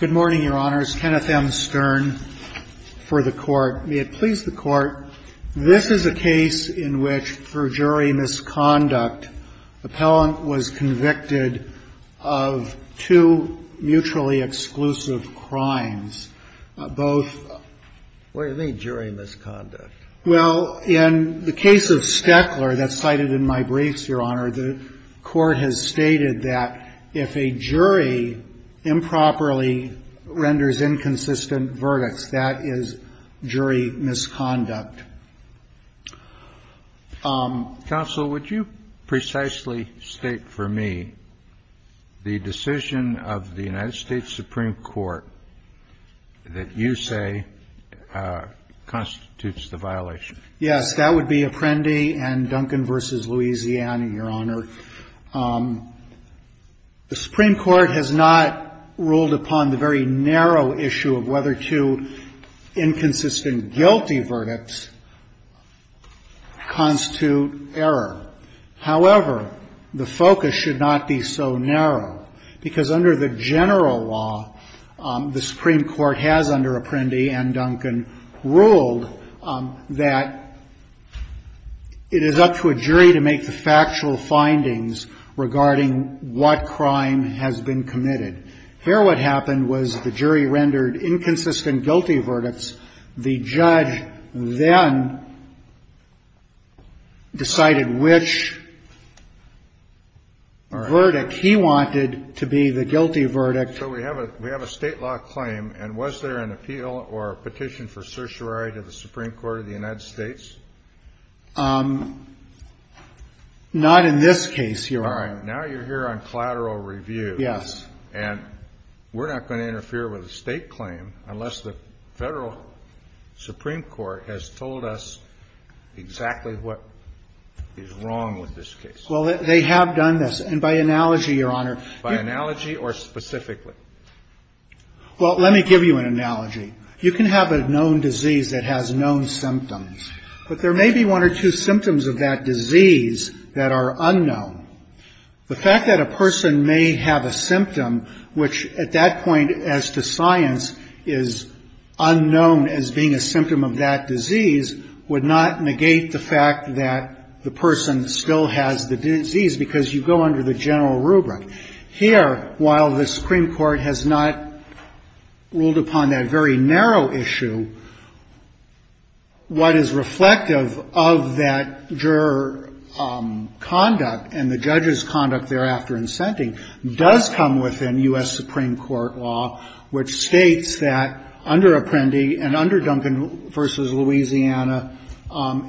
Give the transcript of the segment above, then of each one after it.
Good morning, Your Honors. Kenneth M. Stern for the Court. May it please the Court, this is a case in which, for jury misconduct, the appellant was convicted of two mutually exclusive crimes, both... What do you mean, jury misconduct? Well, in the case of Steckler, that's cited in my briefs, Your Honor, the Court has stated that if a jury improperly renders inconsistent verdicts, that is jury misconduct. Counsel, would you precisely state for me the decision of the United States Supreme Court that you say constitutes the violation? Yes, that would be Apprendi and Duncan v. Louisiana, Your Honor. The Supreme Court has not ruled upon the very narrow issue of whether two inconsistent, guilty verdicts constitute error. However, the focus should not be so narrow, because under the general law, the Supreme Court has, under Apprendi and Duncan, ruled that it is up to a jury to make the factual findings regarding what crime has been committed. Here what happened was the jury rendered inconsistent, guilty verdicts. The judge then decided which verdict he wanted to be the guilty verdict. So we have a state law claim, and was there an appeal or a petition for certiorari to the Supreme Court of the United States? Not in this case, Your Honor. All right. Now you're here on collateral review. Yes. And we're not going to interfere with a state claim unless the Federal Supreme Court has told us exactly what is wrong with this case. Well, they have done this, and by analogy, Your Honor. By analogy or specifically? Well, let me give you an analogy. You can have a known disease that has known symptoms, but there may be one or two symptoms of that disease that are unknown. The fact that a person may have a symptom, which at that point as to science is unknown as being a symptom of that disease, would not negate the fact that the person still has the disease, because you go under the general rubric. Here, while the Supreme Court has not ruled upon that very narrow issue, what is reflective of that juror conduct and the judge's conduct thereafter in sentencing does come within U.S. Supreme Court law, which states that under Apprendi and under Duncan v. Louisiana,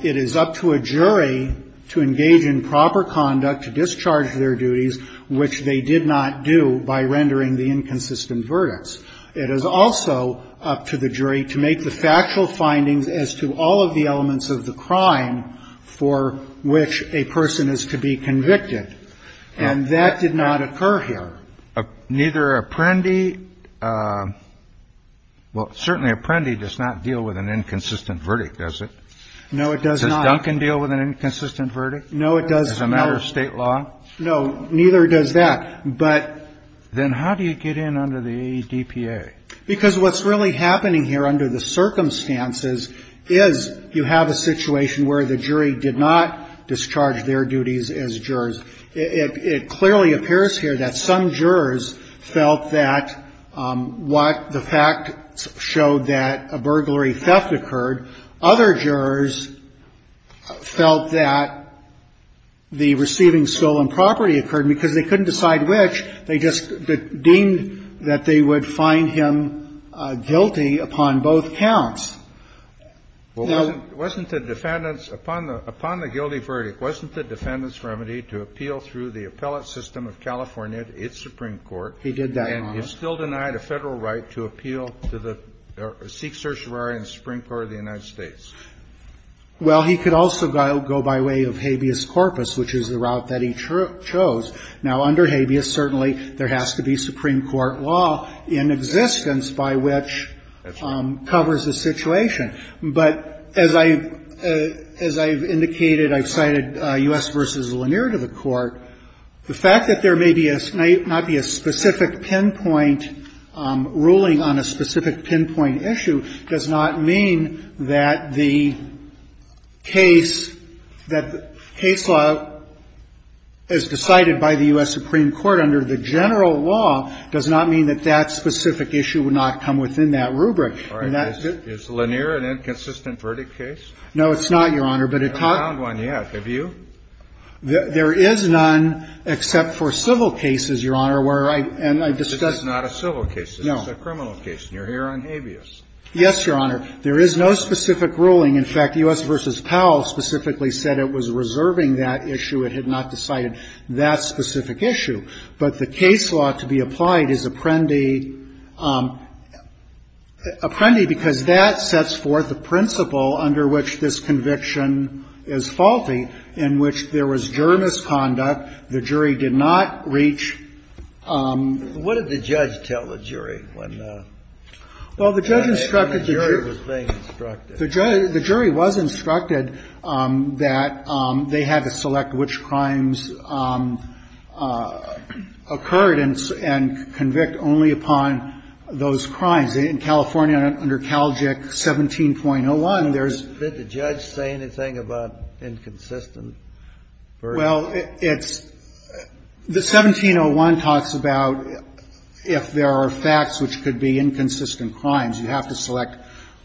it is up to a jury to engage in proper conduct to discharge their duties, which they did not do by rendering the inconsistent verdicts. It is also up to the jury to make the factual findings as to all of the elements of the crime for which a person is to be convicted. And that did not occur here. Neither Apprendi, well, certainly Apprendi does not deal with an inconsistent verdict, does it? No, it does not. Does Duncan deal with an inconsistent verdict? No, it does not. As a matter of state law? No, neither does that. But then how do you get in under the ADPA? Because what's really happening here under the circumstances is you have a situation where the jury did not discharge their duties as jurors. It clearly appears here that some jurors felt that what the facts showed, that a burglary theft occurred. Other jurors felt that the receiving stolen property occurred because they couldn't decide which. They just deemed that they would find him guilty upon both counts. Well, wasn't the defendant's, upon the guilty verdict, wasn't the defendant's remedy to appeal through the appellate system of California, its Supreme Court? He did that, Your Honor. And he's still denied a Federal right to appeal to the Sikh Sorcerer and Supreme Court of the United States? Well, he could also go by way of habeas corpus, which is the route that he chose. Now, under habeas, certainly, there has to be Supreme Court law in existence by which covers the situation. But as I've indicated, I've cited U.S. v. Lanier to the Court. The fact that there may be a, may not be a specific pinpoint ruling on a specific pinpoint issue does not mean that the case, that the case law as decided by the U.S. Supreme Court under the general law does not mean that that specific issue would not come within that rubric. All right. Is Lanier an inconsistent verdict case? No, it's not, Your Honor. I haven't found one yet. Have you? There is none except for civil cases, Your Honor, where I've discussed. This is not a civil case. No. It's a criminal case, and you're here on habeas. Yes, Your Honor. There is no specific ruling. In fact, U.S. v. Powell specifically said it was reserving that issue. It had not decided that specific issue. But the case law to be applied is apprendi, apprendi because that sets forth a principle under which this conviction is faulty, in which there was juror misconduct, the jury did not reach. What did the judge tell the jury when the? Well, the judge instructed the jury. The jury was being instructed. The jury was instructed that they had to select which crimes occurred and convict only upon those crimes. In California, under CALJIC 17.01, there's. Did the judge say anything about inconsistent? Well, it's the 17.01 talks about if there are facts which could be inconsistent crimes, you have to select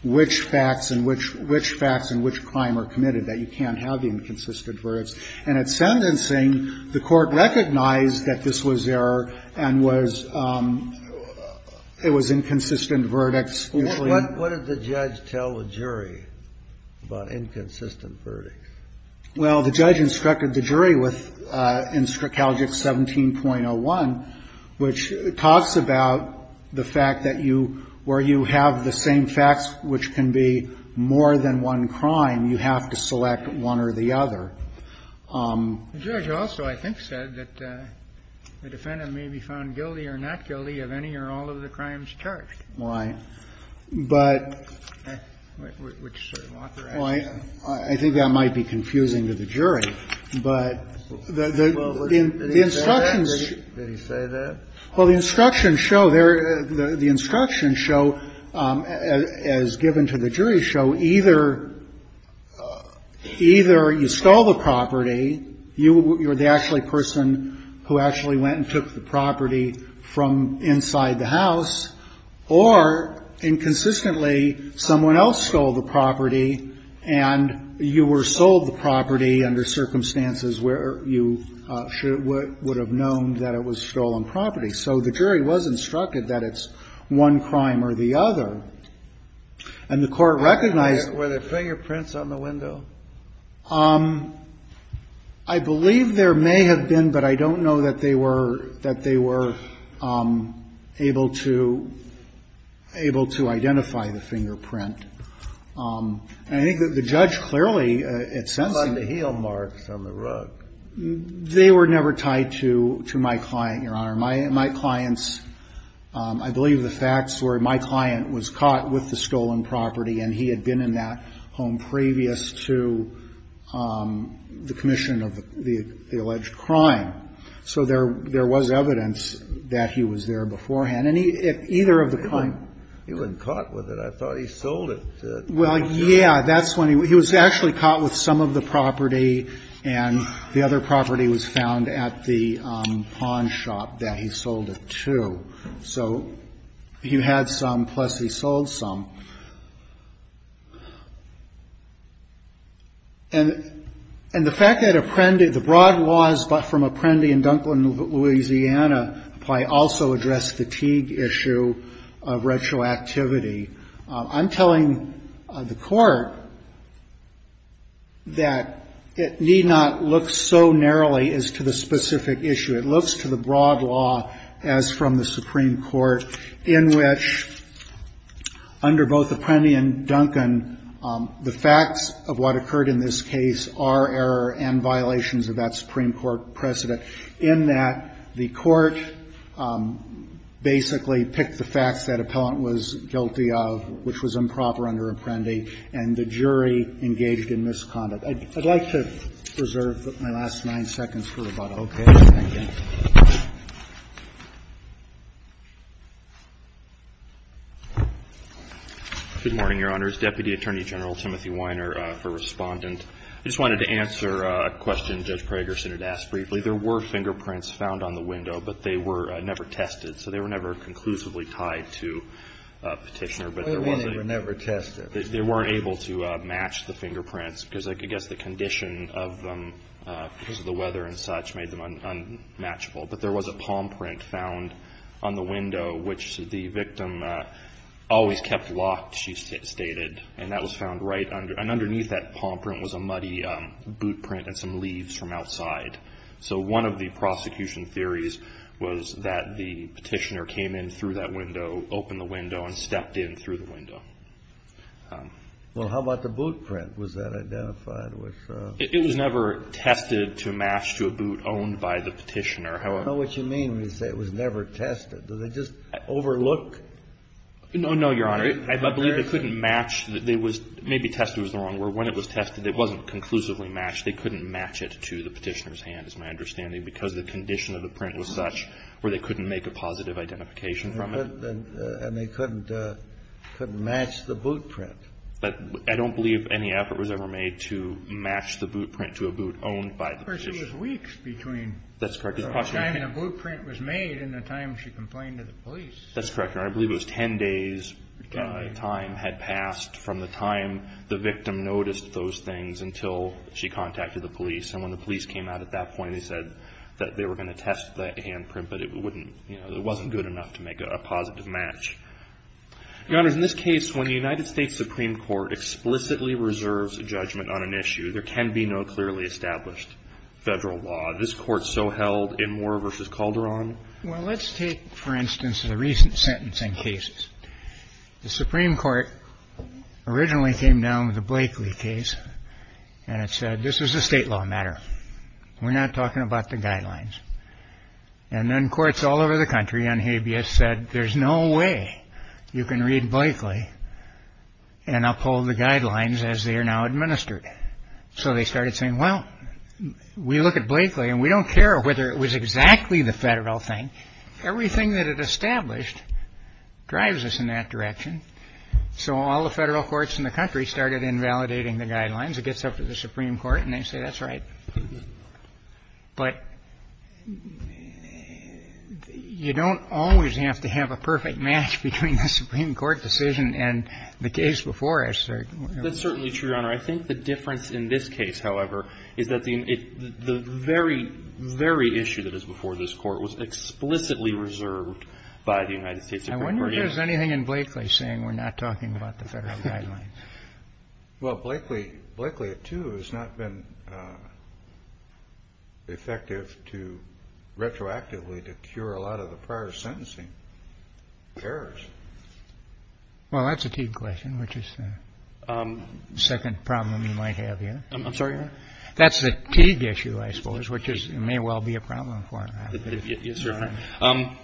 which facts and which facts and which crime are committed that you can't have inconsistent verdicts. And at sentencing, the court recognized that this was error and was, it was inconsistent verdicts. What did the judge tell the jury about inconsistent verdicts? Well, the judge instructed the jury with, in CALJIC 17.01, which talks about the fact that you, where you have the same facts which can be more than one crime, you have to select one or the other. The judge also, I think, said that the defendant may be found guilty or not guilty of any or all of the crimes charged. Right. But. Which sort of authorization? I think that might be confusing to the jury. But the instructions. Did he say that? Well, the instructions show there, the instructions show, as given to the jury show, that either, either you stole the property, you're the actually person who actually went and took the property from inside the house, or, inconsistently, someone else stole the property and you were sold the property under circumstances where you would have known that it was stolen property. So the jury was instructed that it's one crime or the other. And the Court recognized. Were there fingerprints on the window? I believe there may have been, but I don't know that they were, that they were able to, able to identify the fingerprint. And I think that the judge clearly, at sensing. On the heel marks on the rug. They were never tied to, to my client, Your Honor. My, my clients, I believe the facts were my client was caught with the stolen property and he had been in that home previous to the commission of the alleged crime. So there, there was evidence that he was there beforehand. And he, if either of the crime. He wasn't caught with it. I thought he sold it. Well, yeah. That's when he, he was actually caught with some of the property. And the other property was found at the pawn shop that he sold it to. So he had some, plus he sold some. And, and the fact that Apprendi, the broad laws from Apprendi and Dunklin, Louisiana, probably also addressed the Teague issue of retroactivity. I'm telling the court that it need not look so narrowly as to the specific issue. It looks to the broad law as from the Supreme Court in which under both Apprendi and Dunkin, the facts of what occurred in this case are error and violations of that Supreme Court precedent in that the court basically picked the facts that was improper under Apprendi and the jury engaged in misconduct. I'd like to reserve my last nine seconds for about a whole case. Thank you. Good morning, Your Honors. Deputy Attorney General Timothy Weiner, for Respondent. I just wanted to answer a question Judge Pragerson had asked briefly. There were fingerprints found on the window, but they were never tested. So they were never conclusively tied to Petitioner. Well, they were never tested. They weren't able to match the fingerprints because I guess the condition of them because of the weather and such made them unmatchable. But there was a palm print found on the window which the victim always kept locked, she stated. And that was found right under, and underneath that palm print was a muddy boot print and some leaves from outside. So one of the prosecution theories was that the Petitioner came in through that window, opened the window, and stepped in through the window. Well, how about the boot print? Was that identified? It was never tested to match to a boot owned by the Petitioner. I don't know what you mean when you say it was never tested. Did they just overlook? No, no, Your Honor. I believe they couldn't match. Maybe tested was the wrong word. When it was tested, it wasn't conclusively matched. They couldn't match it to the Petitioner's hand, is my understanding, because the condition of the print was such where they couldn't make a positive identification from it. And they couldn't match the boot print. I don't believe any effort was ever made to match the boot print to a boot owned by the Petitioner. Of course, it was weeks between the time the boot print was made and the time she complained to the police. That's correct, Your Honor. I believe it was 10 days' time had passed from the time the victim noticed those things until she contacted the police. And when the police came out at that point, they said that they were going to test the hand print, but it wouldn't, you know, it wasn't good enough to make a positive match. Your Honor, in this case, when the United States Supreme Court explicitly reserves a judgment on an issue, there can be no clearly established Federal law. This Court so held in Moore v. Calderon. Well, let's take, for instance, the recent sentencing cases. The Supreme Court originally came down with the Blakely case. And it said, this is a state law matter. We're not talking about the guidelines. And then courts all over the country on habeas said, there's no way you can read Blakely and uphold the guidelines as they are now administered. So they started saying, well, we look at Blakely, and we don't care whether it was exactly the Federal thing. Everything that it established drives us in that direction. So all the Federal courts in the country started invalidating the guidelines. It gets up to the Supreme Court, and they say, that's right. But you don't always have to have a perfect match between the Supreme Court decision and the case before it. That's certainly true, Your Honor. I think the difference in this case, however, is that the very, very issue that is explicitly reserved by the United States Supreme Court. I wonder if there's anything in Blakely saying we're not talking about the Federal guidelines. Well, Blakely, too, has not been effective to retroactively to cure a lot of the prior sentencing errors. Well, that's a Teague question, which is the second problem you might have here. I'm sorry, Your Honor? That's the Teague issue, I suppose, which may well be a problem for it. Yes, Your Honor.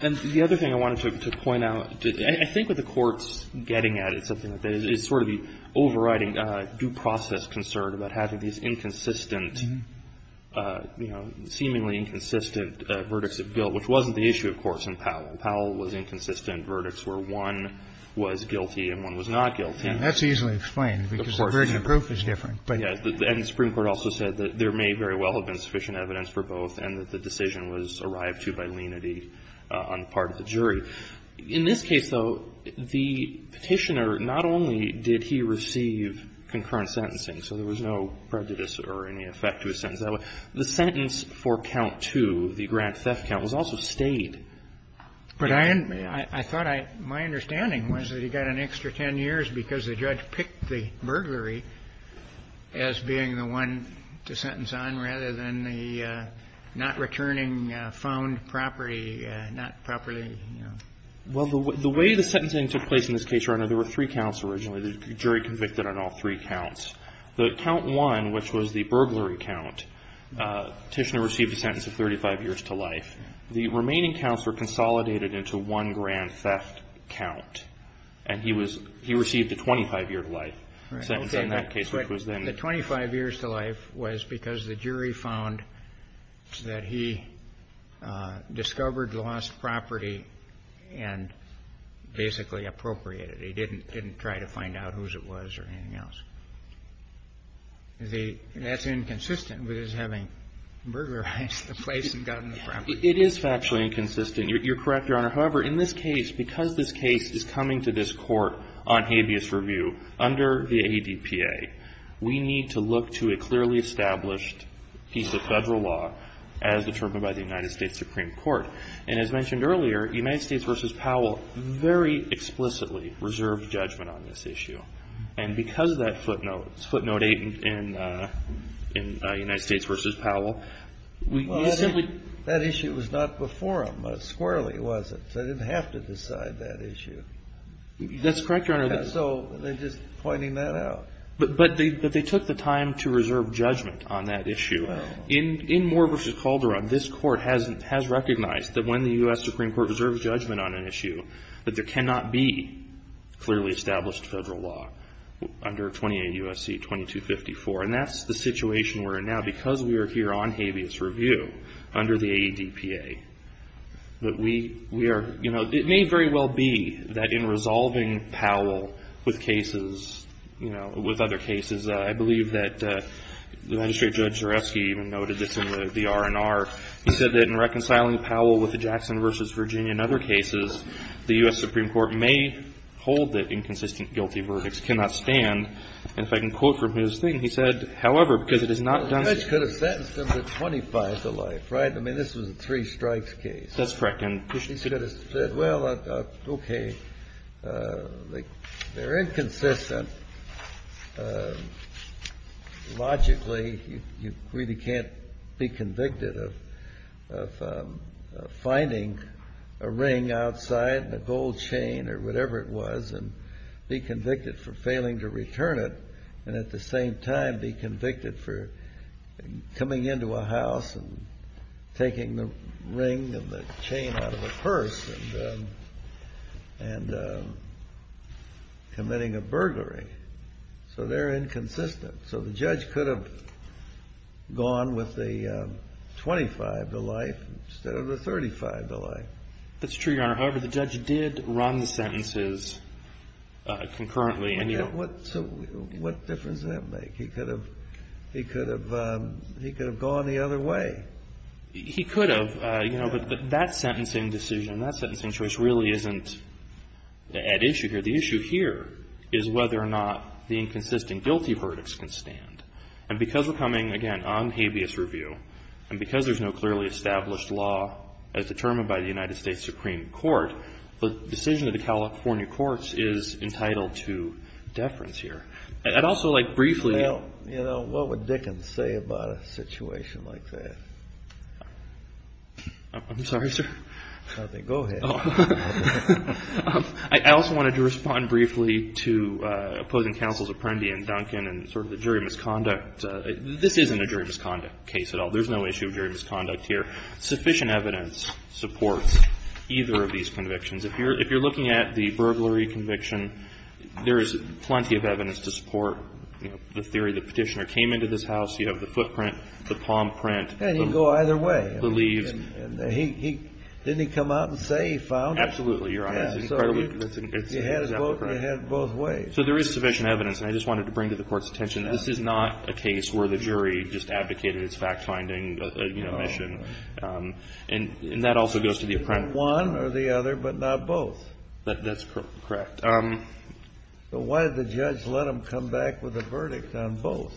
And the other thing I wanted to point out, I think what the Court's getting at, it's something that is sort of the overriding due process concern about having these inconsistent, you know, seemingly inconsistent verdicts of guilt, which wasn't the issue, of course, in Powell. Powell was inconsistent verdicts where one was guilty and one was not guilty. And that's easily explained. Of course. Because the version of proof is different. And the Supreme Court also said that there may very well have been sufficient evidence for both and that the decision was arrived to by lenity on the part of the jury. In this case, though, the Petitioner, not only did he receive concurrent sentencing, so there was no prejudice or any effect to his sentence that way, the sentence for count two, the grand theft count, was also stayed. But I thought my understanding was that he got an extra 10 years because the judge picked the burglary as being the one to sentence on rather than the not returning found property, not properly, you know. Well, the way the sentencing took place in this case, Your Honor, there were three counts originally. The jury convicted on all three counts. The count one, which was the burglary count, Petitioner received a sentence of 35 years to life. The remaining counts were consolidated into one grand theft count. And he received a 25 year to life sentence in that case, which was then. The 25 years to life was because the jury found that he discovered the lost property and basically appropriated it. He didn't try to find out whose it was or anything else. That's inconsistent with his having burglarized the place and gotten the property. You're correct, Your Honor. However, in this case, because this case is coming to this court on habeas review under the ADPA, we need to look to a clearly established piece of federal law as determined by the United States Supreme Court. And as mentioned earlier, United States v. Powell very explicitly reserved judgment on this issue. And because of that footnote, footnote eight in United States v. Powell, we simply. That issue was not before him. It squarely wasn't. So they didn't have to decide that issue. That's correct, Your Honor. So they're just pointing that out. But they took the time to reserve judgment on that issue. In Moore v. Calderon, this court has recognized that when the U.S. Supreme Court reserves judgment on an issue, that there cannot be clearly established federal law under 28 U.S.C. 2254. And that's the situation we're in now because we are here on habeas review under the ADPA. But we are. You know, it may very well be that in resolving Powell with cases, you know, with other cases, I believe that the magistrate judge Zareski even noted this in the R&R. He said that in reconciling Powell with the Jackson v. Virginia and other cases, the U.S. Supreme Court may hold that inconsistent guilty verdicts cannot stand. And if I can quote from his thing, he said, however, because it is not done. The judge could have sentenced him to 25 to life, right? I mean, this was a three strikes case. That's correct. And he could have said, well, okay, they're inconsistent. Logically, you really can't be convicted of finding a ring outside, a gold chain or whatever it was, and be convicted for failing to return it, and at the same time be convicted for coming into a house and taking the ring and the chain out of a purse and committing a burglary. So they're inconsistent. So the judge could have gone with the 25 to life instead of the 35 to life. That's true, Your Honor. However, the judge did run the sentences concurrently. What difference does that make? He could have gone the other way. He could have. But that sentencing decision, that sentencing choice really isn't at issue here. The issue here is whether or not the inconsistent guilty verdicts can stand. And because we're coming, again, on habeas review, and because there's no clearly established law as determined by the United States Supreme Court, the decision of the California courts is entitled to deference here. I'd also like briefly to Well, you know, what would Dickens say about a situation like that? I'm sorry, sir? Nothing. Go ahead. I also wanted to respond briefly to opposing counsels Apprendi and Duncan and sort of the jury misconduct. This isn't a jury misconduct case at all. There's no issue of jury misconduct here. Sufficient evidence supports either of these convictions. If you're looking at the burglary conviction, there is plenty of evidence to support the theory the petitioner came into this house. You have the footprint, the palm print. And he can go either way. Believes. Didn't he come out and say he found it? Absolutely, Your Honor. He had his vote and he had it both ways. So there is sufficient evidence. And I just wanted to bring to the Court's attention this is not a case where the jury just advocated its fact-finding mission. And that also goes to the Apprendi. One or the other, but not both. That's correct. But why did the judge let him come back with a verdict on both?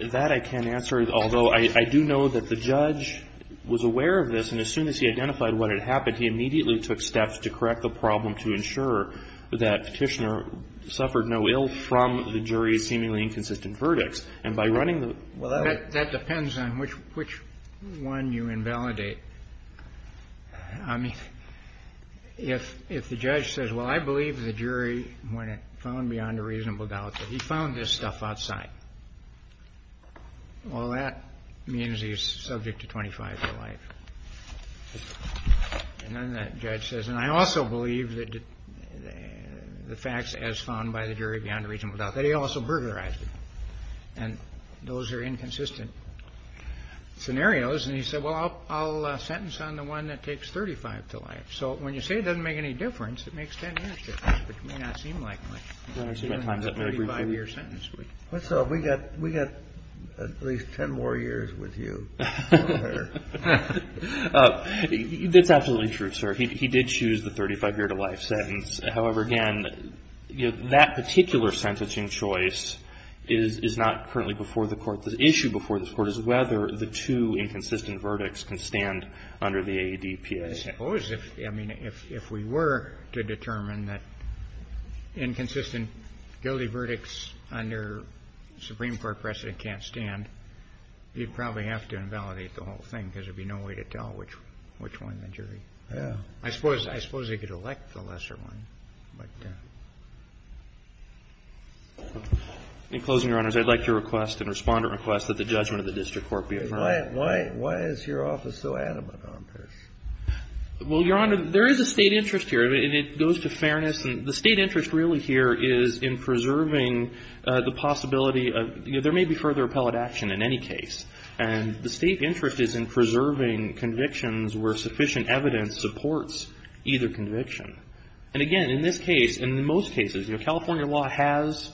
That I can't answer, although I do know that the judge was aware of this. And as soon as he identified what had happened, he immediately took steps to correct the problem to ensure that Petitioner suffered no ill from the jury's seemingly inconsistent verdicts. And by running the law. Well, that depends on which one you invalidate. I mean, if the judge says, well, I believe the jury, when it found beyond a reasonable doubt that he found this stuff outside, well, that means he's subject to 25 years of life. And then the judge says, and I also believe that the facts as found by the jury beyond a reasonable doubt that he also burglarized it. And those are inconsistent scenarios. And he said, well, I'll sentence on the one that takes 35 to life. So when you say it doesn't make any difference, it makes 10 years difference, which may not seem like much. It's a 35-year sentence. What's up? We got at least 10 more years with you. That's absolutely true, sir. He did choose the 35-year-to-life sentence. However, again, you know, that particular sentencing choice is not currently before the Court. The issue before this Court is whether the two inconsistent verdicts can stand under the AEDPS. I suppose if, I mean, if we were to determine that inconsistent guilty verdicts under Supreme Court precedent can't stand, you'd probably have to invalidate the whole thing because there'd be no way to tell which one the jury. Yeah. I suppose they could elect the lesser one, but yeah. In closing, Your Honors, I'd like to request, and Respondent requests, that the judgment of the district court be affirmed. Why is your office so adamant on this? Well, Your Honor, there is a State interest here, and it goes to fairness. And the State interest really here is in preserving the possibility of, you know, there may be further appellate action in any case. And the State interest is in preserving convictions where sufficient evidence supports either conviction. And again, in this case, and in most cases, you know, California law has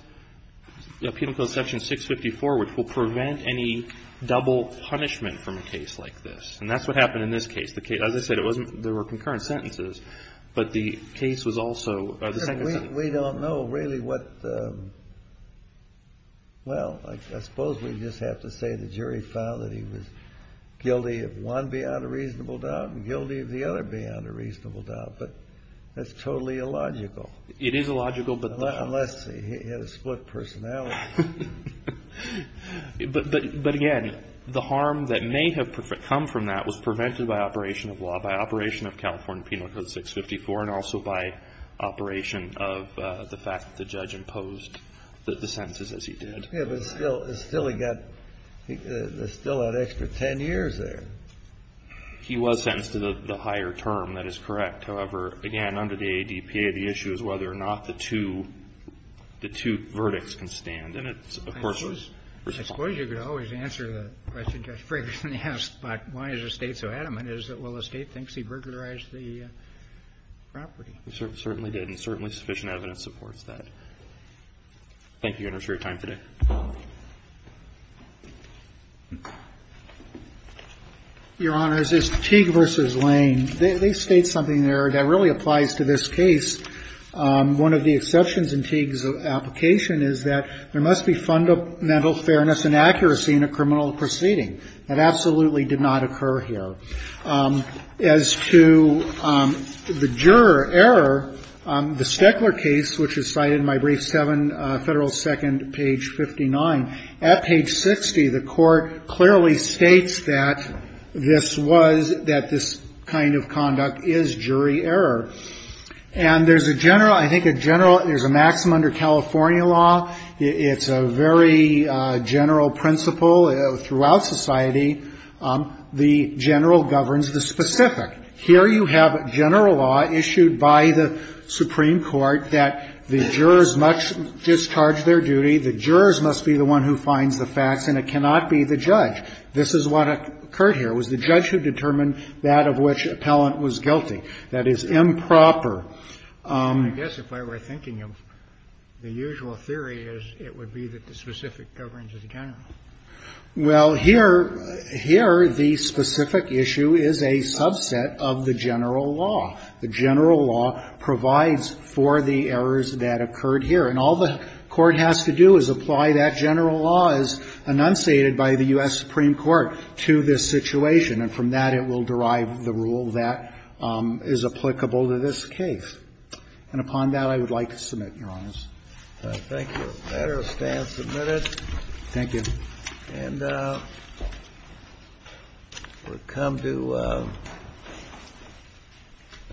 Penal Code Section 654, which will prevent any double punishment from a case like this. And that's what happened in this case. As I said, there were concurrent sentences, but the case was also the second sentence. We don't know really what the, well, I suppose we just have to say the jury found that he was guilty of one beyond a reasonable doubt and guilty of the other beyond a reasonable doubt, but that's totally illogical. It is illogical, but the. Unless he had a split personality. But again, the harm that may have come from that was prevented by operation of law, by conviction, but also by operation of the fact that the judge imposed the sentences as he did. Kennedy. Yeah, but still he got, there's still that extra 10 years there. He was sentenced to the higher term. That is correct. However, again, under the ADPA, the issue is whether or not the two, the two verdicts can stand. And it's, of course. I suppose you could always answer the question Judge Ferguson asked, but why is the State so adamant, is it? Well, the State thinks he burglarized the property. He certainly did, and certainly sufficient evidence supports that. Thank you, Your Honor, for your time today. Your Honor, it's Teague v. Lane. They state something there that really applies to this case. One of the exceptions in Teague's application is that there must be fundamental fairness and accuracy in a criminal proceeding. That absolutely did not occur here. As to the juror error, the Stekler case, which is cited in my brief, Federal Second, page 59. At page 60, the court clearly states that this was, that this kind of conduct is jury error. And there's a general, I think a general, there's a maxim under California law. It's a very general principle throughout society. The general governs the specific. Here you have general law issued by the Supreme Court that the jurors must discharge their duty, the jurors must be the one who finds the facts, and it cannot be the judge. This is what occurred here. It was the judge who determined that of which appellant was guilty. That is improper. I guess if I were thinking of the usual theory, it would be that the specific governs the general. Well, here, here the specific issue is a subset of the general law. The general law provides for the errors that occurred here. And all the court has to do is apply that general law as enunciated by the U.S. Supreme Court to this situation. And from that, it will derive the rule that is applicable to this case. And upon that, I would like to submit, Your Honor. Thank you. The matter stands submitted. Thank you. And we'll come to our next witness.